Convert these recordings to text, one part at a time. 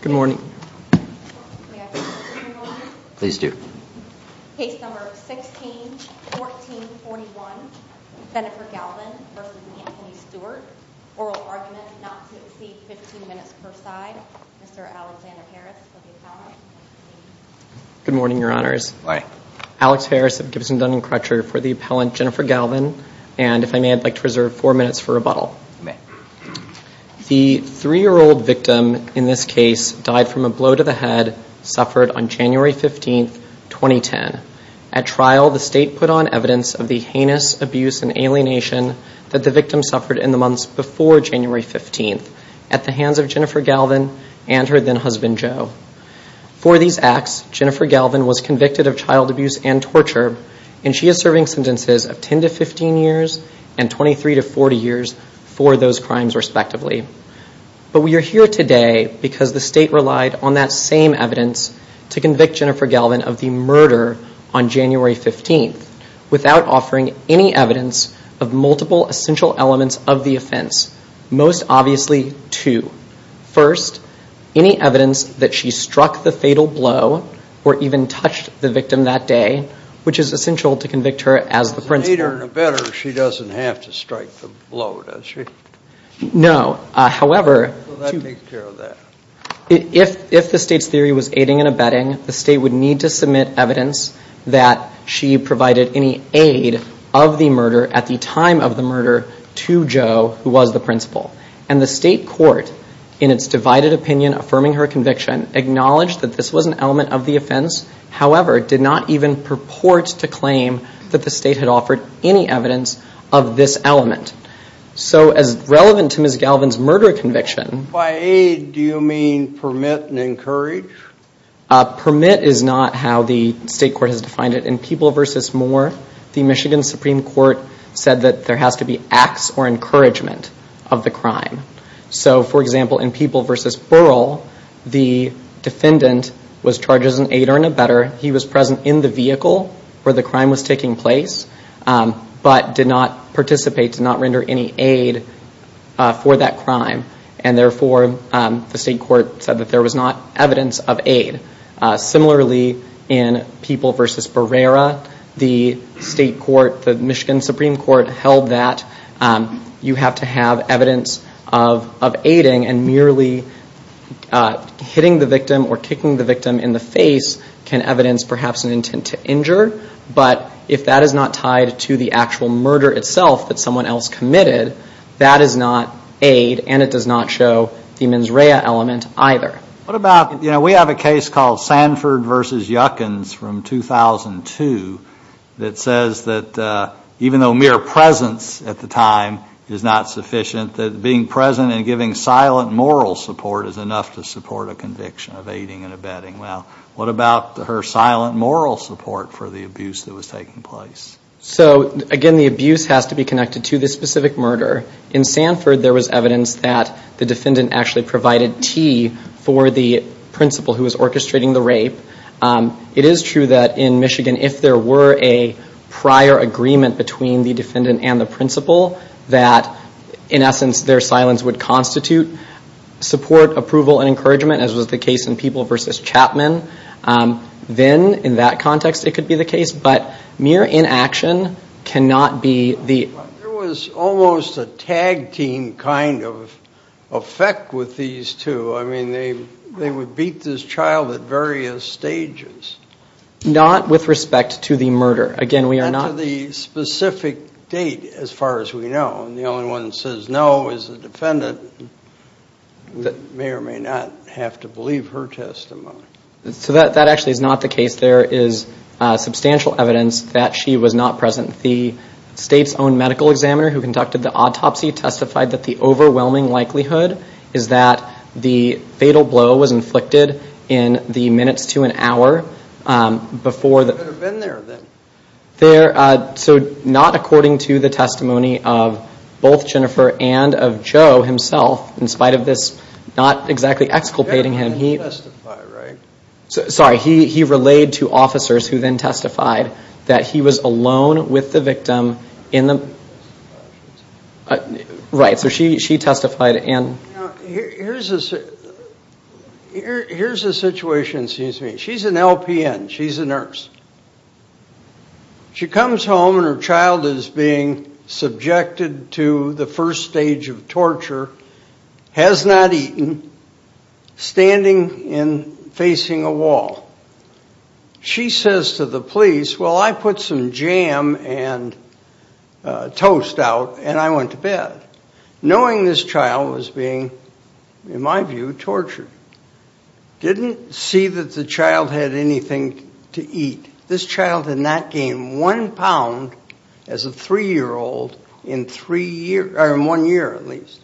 Good morning. Please do. Good morning, your honors. Alex Harris of Gibson Dunn and Crutcher for the appellant Jennifer Galvan, and if I may, I'd like to reserve four minutes for rebuttal. The three-year-old victim in this case died from a blow to the head, suffered on January 15th, 2010. At trial, the state put on evidence of the heinous abuse and alienation that the victim suffered in the months before January 15th, at the hands of Jennifer Galvan and her then-husband, Joe. For these acts, Jennifer Galvan was convicted of child abuse and torture, and she is serving sentences of 10 to 15 years and 23 to 40 years for those crimes, respectively. But we are here today because the state relied on that same evidence to convict Jennifer Galvan of the murder on January 15th, without offering any evidence of multiple essential elements of the offense, most obviously two. First, any evidence that she struck the fatal blow or even touched the victim that day, which is essential to convict her as the principal. If the state's theory was aiding and abetting, the state would need to submit evidence that she provided any aid of the murder at the time of the murder to Joe, who was the principal. And the state court, in its divided opinion, affirming her conviction, acknowledged that this was an element of the offense, however, did not even purport to offering any evidence of this element. So, as relevant to Ms. Galvan's murder conviction... By aid, do you mean permit and encourage? Permit is not how the state court has defined it. In People versus Moore, the Michigan Supreme Court said that there has to be acts or encouragement of the crime. So, for example, in People versus Burrell, the defendant was charged as an aider and abetter. He was present in the vehicle where the crime occurred, but did not participate, did not render any aid for that crime. And therefore, the state court said that there was not evidence of aid. Similarly, in People versus Barrera, the state court, the Michigan Supreme Court held that you have to have evidence of aiding and merely hitting the victim or kicking the victim in the face can evidence perhaps an intent to injure. But if that is not tied to the actual murder itself that someone else committed, that is not aid and it does not show the mens rea element either. What about, you know, we have a case called Sanford versus Yuckins from 2002 that says that even though mere presence at the time is not sufficient, that being present and giving silent moral support is enough to support a conviction of aiding and abetting. Well, what about her silent moral support for the abuse that was taking place? So again, the abuse has to be connected to this specific murder. In Sanford, there was evidence that the defendant actually provided tea for the principal who was orchestrating the rape. It is true that in Michigan, if there were a prior agreement between the defendant and the principal that, in essence, their silence would constitute support, approval, and encouragement, as was the case in People versus Chapman, then in that context, it could be the case. But mere inaction cannot be the... There was almost a tag team kind of effect with these two. I mean, they would beat this child at various stages. Not with respect to the murder. Again, we are not... Not to the specific date, as far as we know. And the only one that says no is the defendant that may or may not have to believe her testimony. So that actually is not the case. There is substantial evidence that she was not present. The state's own medical examiner, who conducted the autopsy, testified that the overwhelming likelihood is that the fatal blow was inflicted in the minutes to an hour before... They could have been there, then. There... So not according to the testimony of both Jennifer and of Joe himself, in spite of this not exactly exculpating him, he... He didn't testify, right? Sorry, he relayed to officers who then testified that he was alone with the victim in the... Right. So she testified and... Here's a situation, excuse me. She's an LPN. She's a nurse. She comes home and her child is being subjected to the first stage of torture, has not eaten, standing and facing a wall. She says to the police, well, I put some jam and toast out and I went to bed, knowing this child was being, in my view, tortured. Didn't see that the child had anything to eat. This child had not gained one pound as a three-year-old in three years... In one year, at least.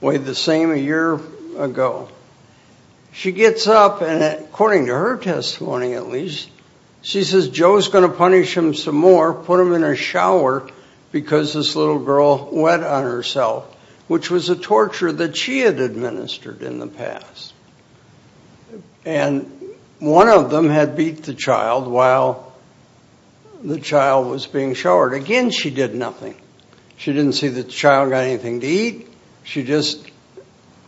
Weighed the same a year ago. She gets up and according to her testimony, at least, she says Joe's going to punish him some more, put him in a shower because this little girl wet on herself, which was a torture that she had administered in the past. And one of them had beat the child while the child was being showered. Again, she did nothing. She didn't see the child got anything to eat. She just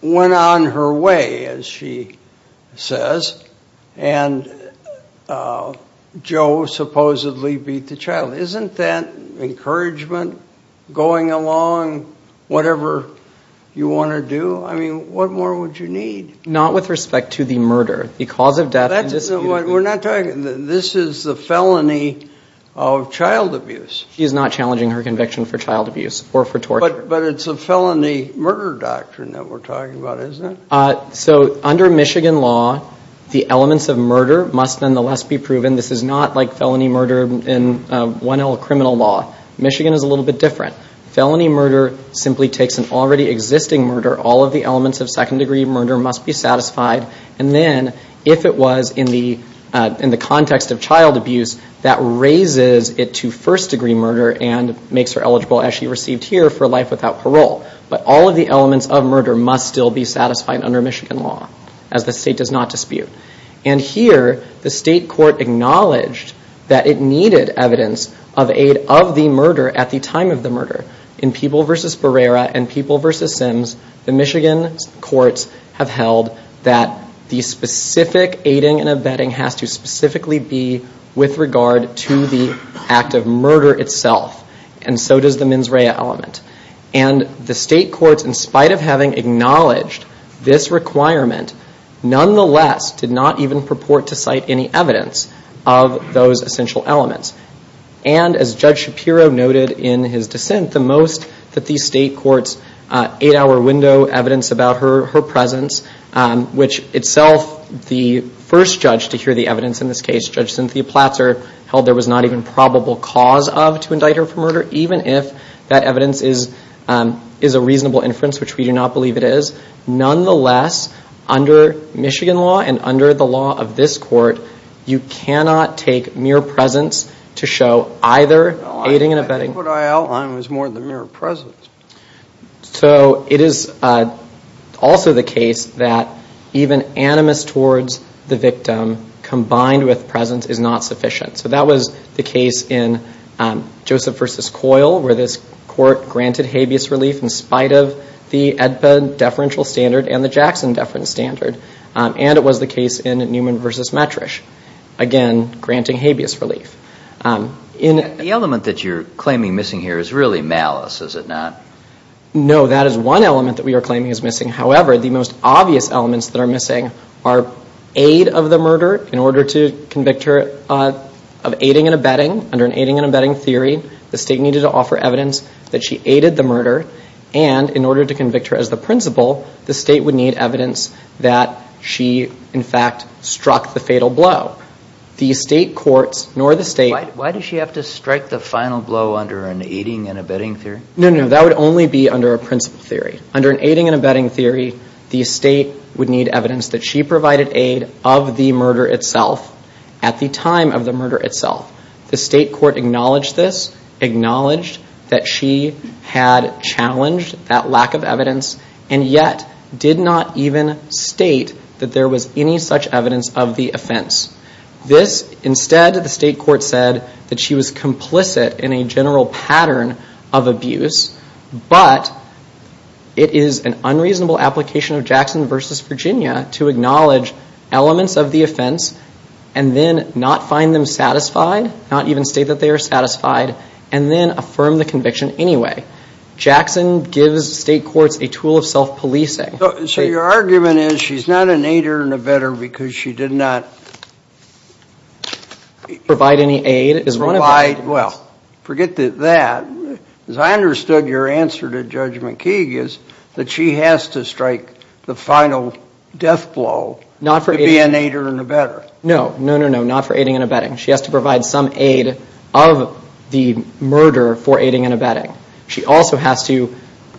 went on her way as she says and Joe supposedly beat the child. Isn't that encouragement? Going along, whatever you want to do? I mean, what more would you need? Not with respect to the murder, the cause of death... We're not talking... This is the felony of child abuse. She's not challenging her conviction for child abuse or for torture. But it's a felony murder doctrine that we're talking about, isn't it? So under Michigan law, the elements of murder must nonetheless be proven. This is not like felony murder in 1L criminal law. Michigan is a little bit different. Felony murder simply takes an already existing murder. All of the elements of second-degree murder must be satisfied. And then if it was in the context of child abuse, that raises it to first-degree murder and makes her eligible, as she received here, for life without parole. But all of the elements of murder must still be satisfied under Michigan law as the state does not dispute. And here, the state court acknowledged that it needed evidence of aid of the murder at the time of the murder. In People v. Barrera and People v. Sims, the Michigan courts have held that the specific aiding and abetting has to specifically be with regard to the act of murder itself. And so does the mens rea element. And the state courts, in spite of having acknowledged this requirement, nonetheless did not even purport to cite any evidence of those essential elements. And as Judge Shapiro noted in his dissent, the most that the state courts eight-hour window evidence about her presence, which itself the first judge to hear the evidence in this case, Judge Cynthia Platzer, held there was not even probable cause of to indict her for murder, even if that evidence is a reasonable inference, which we do not believe it is. Nonetheless, under Michigan law and under the law of this court, you cannot take mere presence to show either aiding and abetting. I think what I outlined was more than mere presence. So it is also the case that even animus towards the victim combined with presence is not sufficient. So that was the case in Joseph v. Coyle, where this court granted habeas relief in spite of the AEDPA deferential standard and the Jackson deferential standard. And it was the case in Newman v. Metrish, again, granting habeas relief. The element that you're claiming missing here is really malice, is it not? No, that is one element that we are claiming is missing. However, the most obvious elements that are missing are aid of the murder in order to convict her of aiding and abetting. Under an aiding and abetting theory, the state needed to offer evidence that she aided the murder. And in order to convict her as the principal, the state would need evidence that she, in fact, struck the fatal blow. The state courts, nor the state... Why does she have to strike the final blow under an aiding and abetting theory? No, that would only be under a principal theory. Under an aiding and abetting theory, the state would need evidence that she provided aid of the murder itself at the time of the murder itself. The state court acknowledged this, acknowledged that she had challenged that lack of evidence, and yet did not even state that there was any such evidence of the offense. This, instead, the state court said that she was complicit in a general pattern of abuse, but it is an unreasonable application of Jackson versus Virginia to acknowledge elements of the offense and then not find them satisfied, not even state that they are satisfied, and then affirm the conviction anyway. Jackson gives state courts a tool of self-policing. So your argument is she's not an aider and abetter because she did not... Provide any aid is one of the... Well, forget that. As I understood your answer to Judge McKeague is that she has to strike the final death blow to be an aider and abetter. No, no, no, no, not for aiding and abetting. She has to provide some aid of the murder for aiding and abetting. She also has to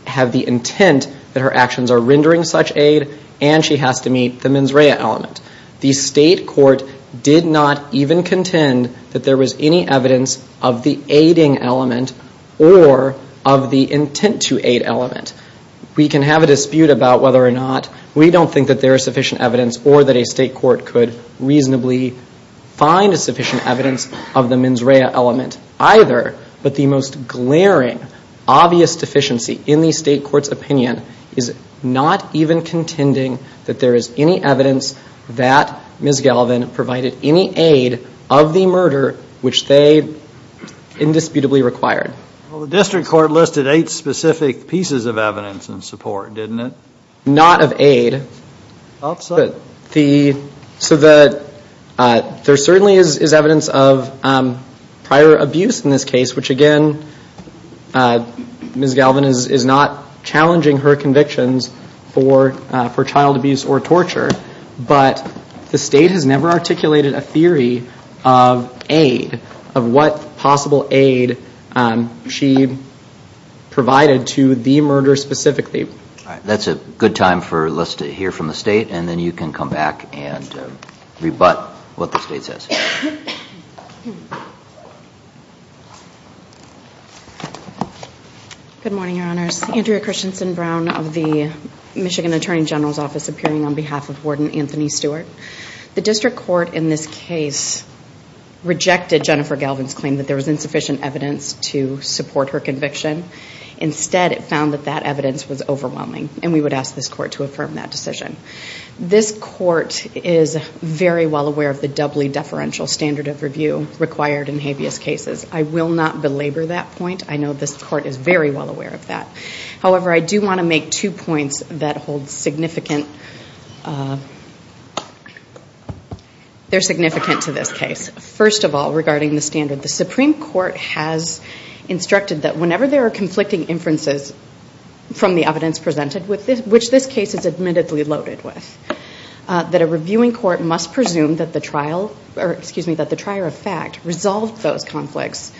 have the intent that her actions are rendering such aid, and she has to meet the mens rea element. The state court did not even contend that there was any evidence of the aiding element or of the intent to aid element. We can have a dispute about whether or not we don't think that there is sufficient evidence or that a state court could reasonably find a sufficient evidence of the mens rea element either, but the most glaring obvious deficiency in the state court's opinion is not even contending that there is any evidence that Ms. Galvin provided any aid of the murder which they indisputably required. Well, the district court listed eight specific pieces of evidence and support, didn't it? Not of aid. So that there certainly is evidence of prior abuse in this case, which again, Ms. Galvin is not challenging her convictions for child abuse or torture, but the state has never articulated a theory of aid, of what possible aid she provided to the murder specifically. That's a good time for us to hear from the state, and then you can come back and rebut what the state Andrea Christensen Brown of the Michigan Attorney General's Office appearing on behalf of Warden Anthony Stewart. The district court in this case rejected Jennifer Galvin's claim that there was insufficient evidence to support her conviction. Instead, it found that that evidence was overwhelming, and we would ask this court to affirm that decision. This court is very well aware of the doubly deferential standard of review required in habeas cases. I will not belabor that point. I know this court is very well aware of that. However, I do want to make two points that are significant to this case. First of all, regarding the standard, the Supreme Court has instructed that whenever there are conflicting inferences from the evidence presented which this case is admittedly loaded with, that a reviewing court must presume that the trial, or excuse me, that the trier of fact resolved those conflicts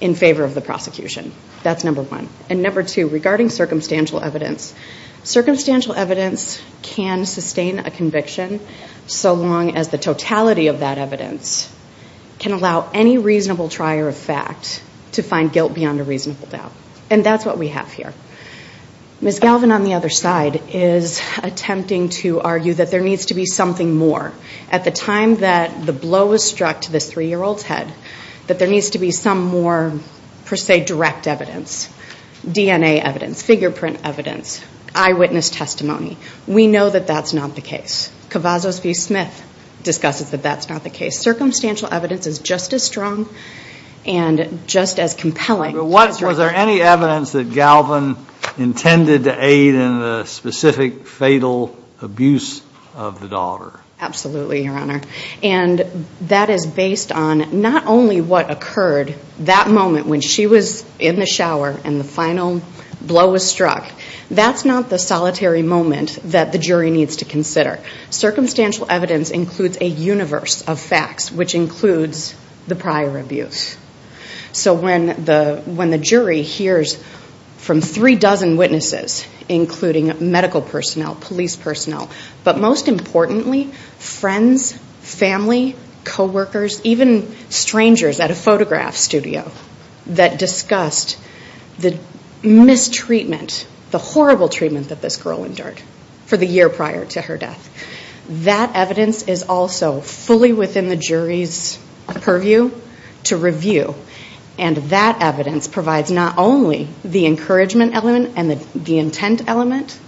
in favor of the And number two, regarding circumstantial evidence. Circumstantial evidence can sustain a conviction so long as the totality of that evidence can allow any reasonable trier of fact to find guilt beyond a reasonable doubt. And that's what we have here. Ms. Galvin, on the other side, is attempting to argue that there needs to be something more. At the time that the blow was struck to this three-year-old's head, that there needs to be some more, per se, direct evidence. DNA evidence, fingerprint evidence, eyewitness testimony. We know that that's not the case. Kavazos v. Smith discusses that that's not the case. Circumstantial evidence is just as strong and just as compelling. Was there any evidence that Galvin intended to aid in the specific fatal abuse of the daughter? Absolutely, Your Honor. And that is based on not only what occurred that moment when she was in the shower and the final blow was struck. That's not the solitary moment that the jury needs to consider. Circumstantial evidence includes a universe of facts, which includes the prior abuse. So when the jury hears from three dozen witnesses, including medical personnel, police personnel, but most importantly, friends, family, coworkers, even strangers at a photograph studio that discussed the mistreatment, the horrible treatment that this girl endured for the year prior to her death, that evidence is also fully within the jury's purview to review. And that evidence provides not only the encouragement element and the intent element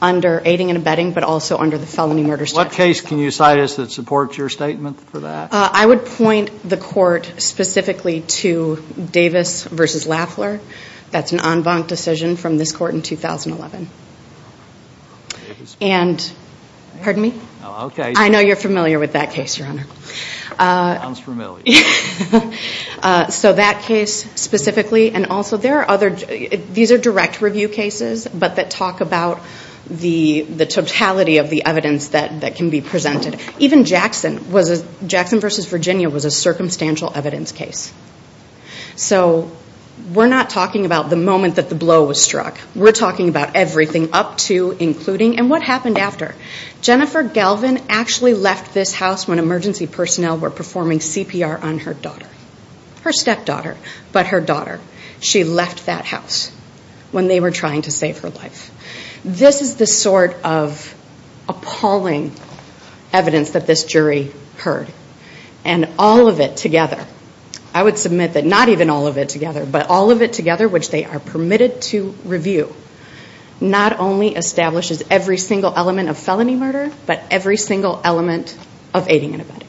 under aiding and abetting, but also under the felony murder statute. What case can you cite us that supports your statement for that? I would point the court specifically to Davis v. Laffler. That's an en banc decision from this court in 2011. And, pardon me? I know you're familiar with that case, Your Honor. I'm familiar. So that case specifically, and also there are other, these are direct review cases, but that talk about the totality of the evidence that can be presented. Even Jackson, was it Jackson v. Virginia was a circumstantial evidence case. So, we're not talking about the moment that the blow was struck. We're talking about everything up to, including, and what happened after. Jennifer Galvin actually left this house when emergency personnel were performing CPR on her daughter. Her stepdaughter, but her daughter. She left that house when they were trying to save her life. This is the sort of appalling evidence that this and all of it together, I would submit that not even all of it together, but all of it together, which they are permitted to review, not only establishes every single element of felony murder, but every single element of aiding and abetting.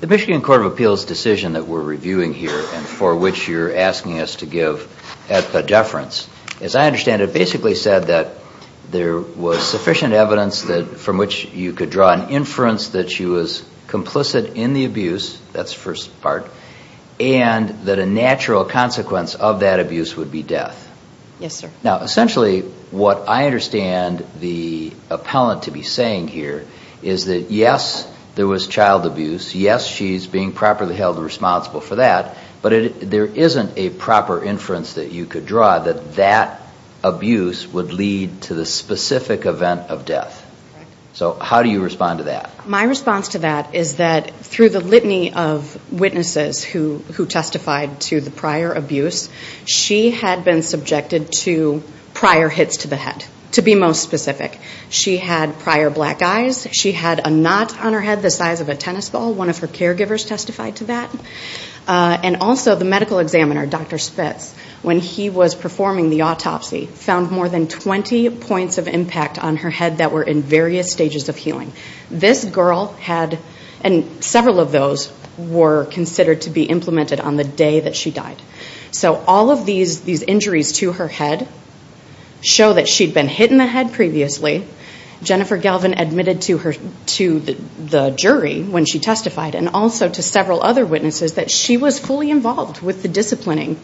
The Michigan Court of Appeals decision that we're reviewing here, and for which you're asking us to give at the deference, as I understand it, basically said that there was sufficient evidence that, from which you could draw an inference that she was complicit in the abuse, that's first part, and that a natural consequence of that abuse would be death. Yes, sir. Now, essentially, what I understand the appellant to be saying here is that, yes, there was child abuse. Yes, she's being properly held responsible for that, but there isn't a proper inference that you could draw that that abuse would lead to the specific event of death. So, how do you respond to that is that, through the litany of witnesses who testified to the prior abuse, she had been subjected to prior hits to the head, to be most specific. She had prior black eyes. She had a knot on her head the size of a tennis ball. One of her caregivers testified to that. And also, the medical examiner, Dr. Spitz, when he was performing the autopsy, found more than 20 points of impact on her head that were in various stages of healing. This girl had, and several of those were considered to be implemented on the day that she died. So, all of these injuries to her head show that she'd been hit in the head previously. Jennifer Galvin admitted to the jury when she testified, and also to several other witnesses, that she was fully involved with the disciplining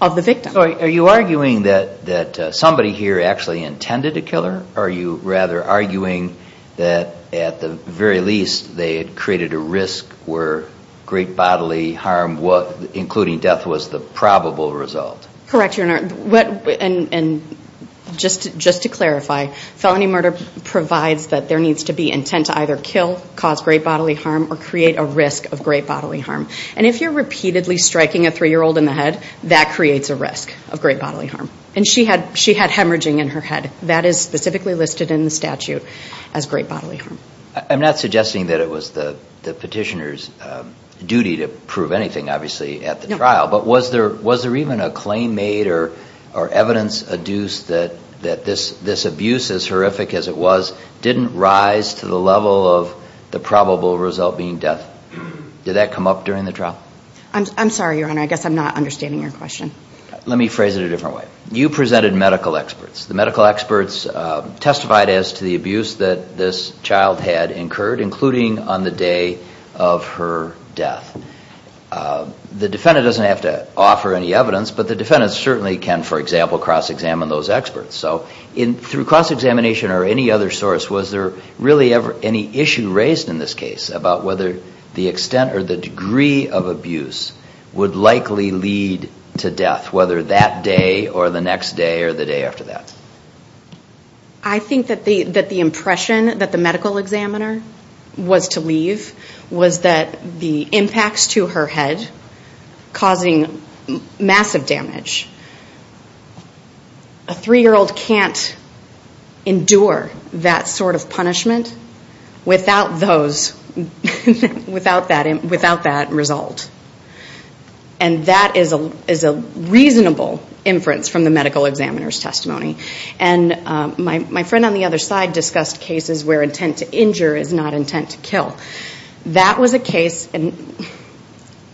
of the victim. So, are you arguing that somebody here actually intended to kill her? Or are you rather arguing that, at the very least, they had created a risk where great bodily harm, including death, was the probable result? Correct, Your Honor. And just to clarify, felony murder provides that there needs to be intent to either kill, cause great bodily harm, or create a risk of great bodily harm. And if you're repeatedly striking a three-year-old in the head, that creates a risk of great bodily harm. And she had hemorrhaging in her head. That is specifically listed in the statute as great bodily harm. I'm not suggesting that it was the petitioner's duty to prove anything, obviously, at the trial. But was there even a claim made or evidence adduced that this abuse, as horrific as it was, didn't rise to the level of the probable result being death? Did that come up during the trial? I'm sorry, Your Honor. I guess I'm not understanding your question. Let me phrase it a different way. You presented medical experts. The medical experts testified as to the abuse that this child had incurred, including on the day of her death. The defendant doesn't have to offer any evidence, but the defendant certainly can, for example, cross-examine those experts. So through cross-examination or any other source, was there really ever any issue raised in this case about whether the extent or the degree of abuse would likely lead to death, whether that day or the next day or the day after that? I think that the impression that the medical examiner was to leave was that the impacts to her head, causing massive damage, a 3-year-old can't endure that sort of punishment without those, without that result. And that is a reasonable inference from the medical examiner's testimony. And my friend on the other side discussed cases where intent to injure is not intent to kill. That was a case, and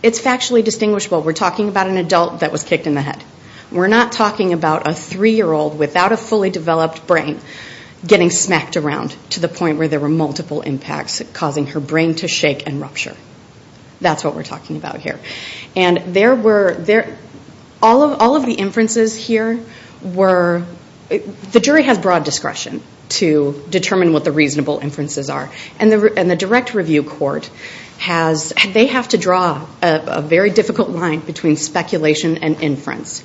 it's factually distinguishable. We're talking about an adult that was kicked in the head. We're not talking about a 3-year-old without a fully developed brain getting smacked around to the point where there were multiple impacts causing her brain to shake and rupture. That's what we're talking about here. And there were, all of the inferences here were, the jury has broad discretion to determine what the reasonable inferences are. And the direct review court has, they have to draw a very difficult line between speculation and inference.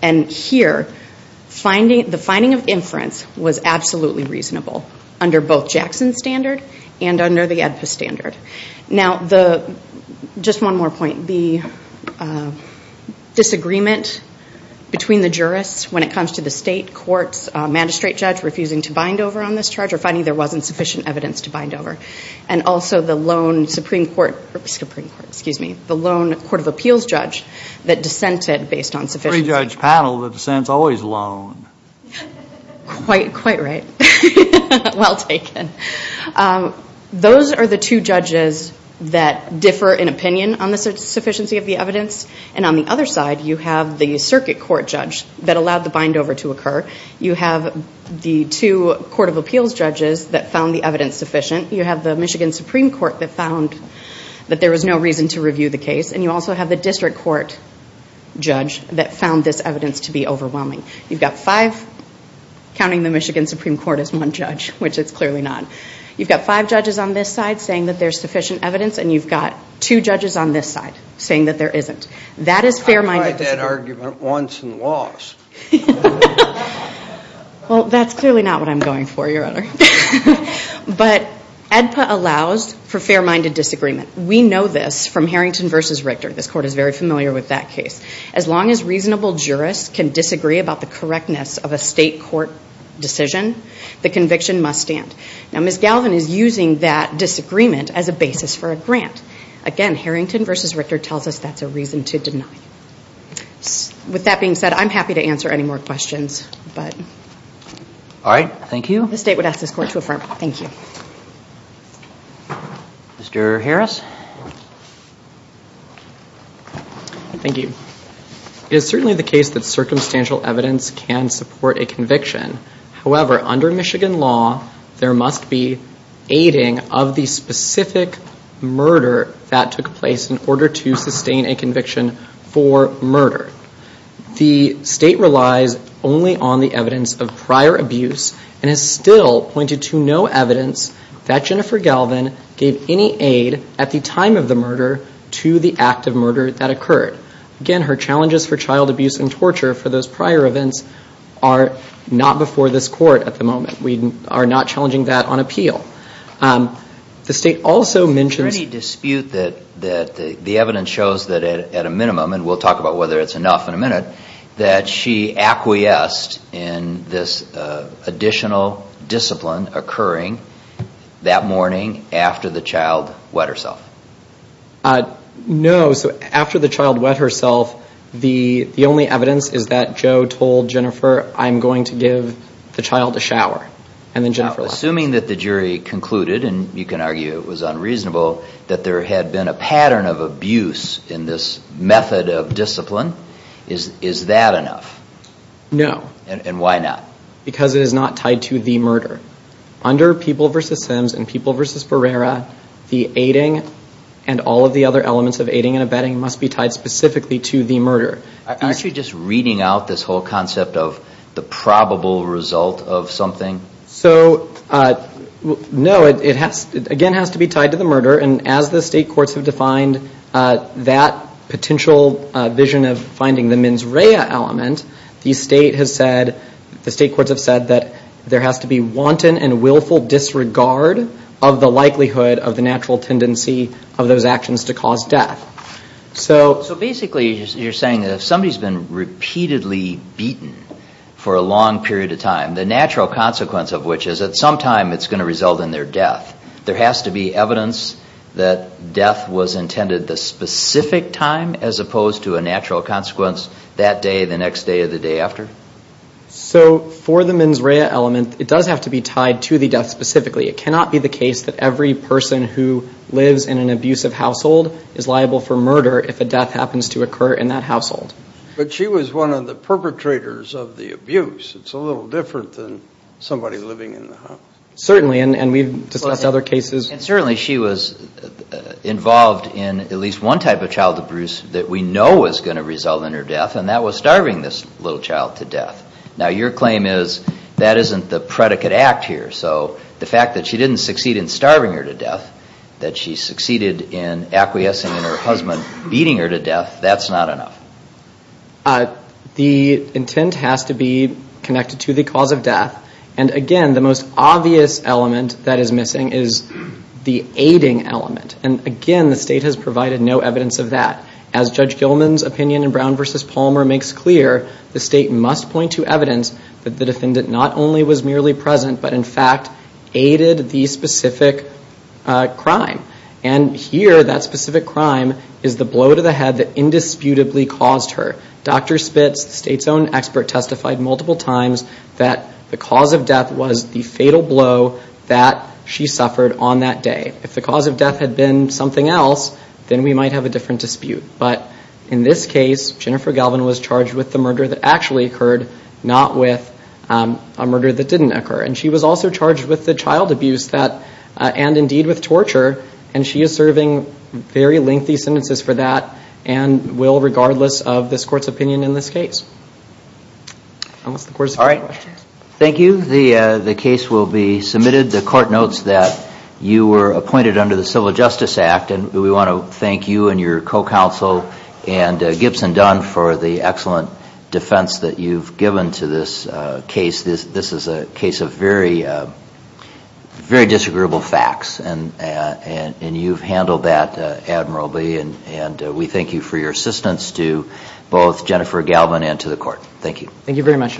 And here, the finding of inference was absolutely reasonable under both Jackson's standard and under the Edpus standard. Now the, just one more point, the disagreement between the jurists when it comes to the state courts magistrate judge refusing to bind over on this charge or finding there wasn't sufficient evidence to bind over. And also the lone Supreme Court, Supreme Court, excuse me, the lone Court of Appeals judge that dissented based on sufficiency. Three-judge panel that dissents always alone. Quite, quite right. Well taken. Those are the two judges that differ in opinion on the sufficiency of the evidence. And on the other side, you have the circuit court judge that allowed the bind over to occur. You have the two Court of Appeals judges that found the evidence sufficient. You have the Michigan Supreme Court that found that there was no reason to review the case. And you also have the district court judge that found this evidence to be overwhelming. You've got five, counting the Michigan Supreme Court as one judge, which it's clearly not. You've got five judges on this side saying that there's sufficient evidence. And you've got two judges on this side saying that there isn't. That is fair-minded disagreement. I tried that argument once and lost. Well, that's clearly not what I'm going for, Your Honor. But AEDPA allows for fair-minded disagreement. We know this from Harrington v. Richter. This Court is very familiar with that case. As long as reasonable jurists can disagree about the correctness of a state court decision, the conviction must stand. Now, Ms. Galvin is using that disagreement as a basis for a grant. Again, Harrington v. Richter tells us that's a reason to deny. With that being said, I'm happy to answer any more questions. All right. Thank you. The State would ask this Court to affirm. Thank you. Mr. Harris? Thank you. It is certainly the case that circumstantial evidence can support a conviction. However, under Michigan law, there must be aiding of the specific murder that took place in order to sustain a conviction for murder. The State relies only on the evidence of prior abuse and has still pointed to no evidence that Jennifer Galvin gave any aid at the time of the murder to the act of murder that occurred. Again, her challenges for child abuse and torture for those prior events are not before this Court at the moment. We are not challenging that on appeal. The State also mentions... Is there any dispute that the evidence shows that at a minimum, and we'll talk about whether it's enough in a minute, that she acquiesced in this additional discipline occurring that morning after the child wet herself? No. So after the child wet herself, the only evidence is that Joe told Jennifer I'm going to give the child a shower. Assuming that the jury concluded, and you can argue it was unreasonable, that there had been a pattern of abuse in this method of discipline, is that enough? No. And why not? Because it is not tied to the murder. Under People vs. Sims and People vs. Barrera, the aiding and all of the other elements of aiding and abetting must be tied specifically to the murder. Actually, just reading out this whole concept of the probable result of something? So, no, it again has to be tied to the murder, and as the State courts have defined that potential vision of finding the mens rea element, the State has said, the State courts have said that there has to be wanton and willful disregard of the likelihood of the natural tendency of those actions to cause death. So basically, you're saying that if somebody's been repeatedly beaten for a long period of time, the natural consequence of which is that sometime it's going to result in their death. There has to be evidence that death was intended the specific time as opposed to a natural consequence that day, the next day, or the day after? So for the mens rea element, it does have to be tied to the death specifically. It cannot be the case that every person who lives in an abusive household is liable for murder if a death happens to occur in that household. But she was one of the perpetrators of the abuse. It's a little different than somebody living in the house. Certainly, and we've discussed other cases. And certainly she was involved in at least one type of child abuse that we know was going to result in her death, and that was starving this little child to death. Now your claim is that isn't the predicate act here. So the fact that she didn't succeed in starving her to death, that she succeeded in acquiescing in her husband beating her to death, that's not enough. The intent has to be connected to the cause of death. And again, the most obvious element that is missing is the aiding element. And again, the state has provided no evidence of that. As Judge Gilman's opinion in Brown v. Palmer makes clear, the state must point to evidence that the defendant not only was merely present, but in fact aided the specific crime. And here, that specific crime is the blow to the head that indisputably caused her. Dr. Spitz, the state's own expert, testified multiple times that the cause of death was the fatal blow that she suffered on that day. If the cause of death had been something else, then we might have a different dispute. But in this case, Jennifer Galvin was charged with the murder that actually occurred, not with a murder that didn't occur. And she was also charged with the child abuse that, and indeed with torture, and she is serving very lengthy sentences for that. And will, regardless of this Court's opinion in this case. Thank you. The case will be submitted. The Court notes that you were appointed under the Civil Justice Act, and we want to thank you and your co-counsel and Gibson Dunn for the excellent defense that you've given to this case. This is a case of very, very disagreeable facts. And you've handled that admirably, and we thank you for your assistance to both Jennifer Galvin and to the Court. Thank you. Thank you very much.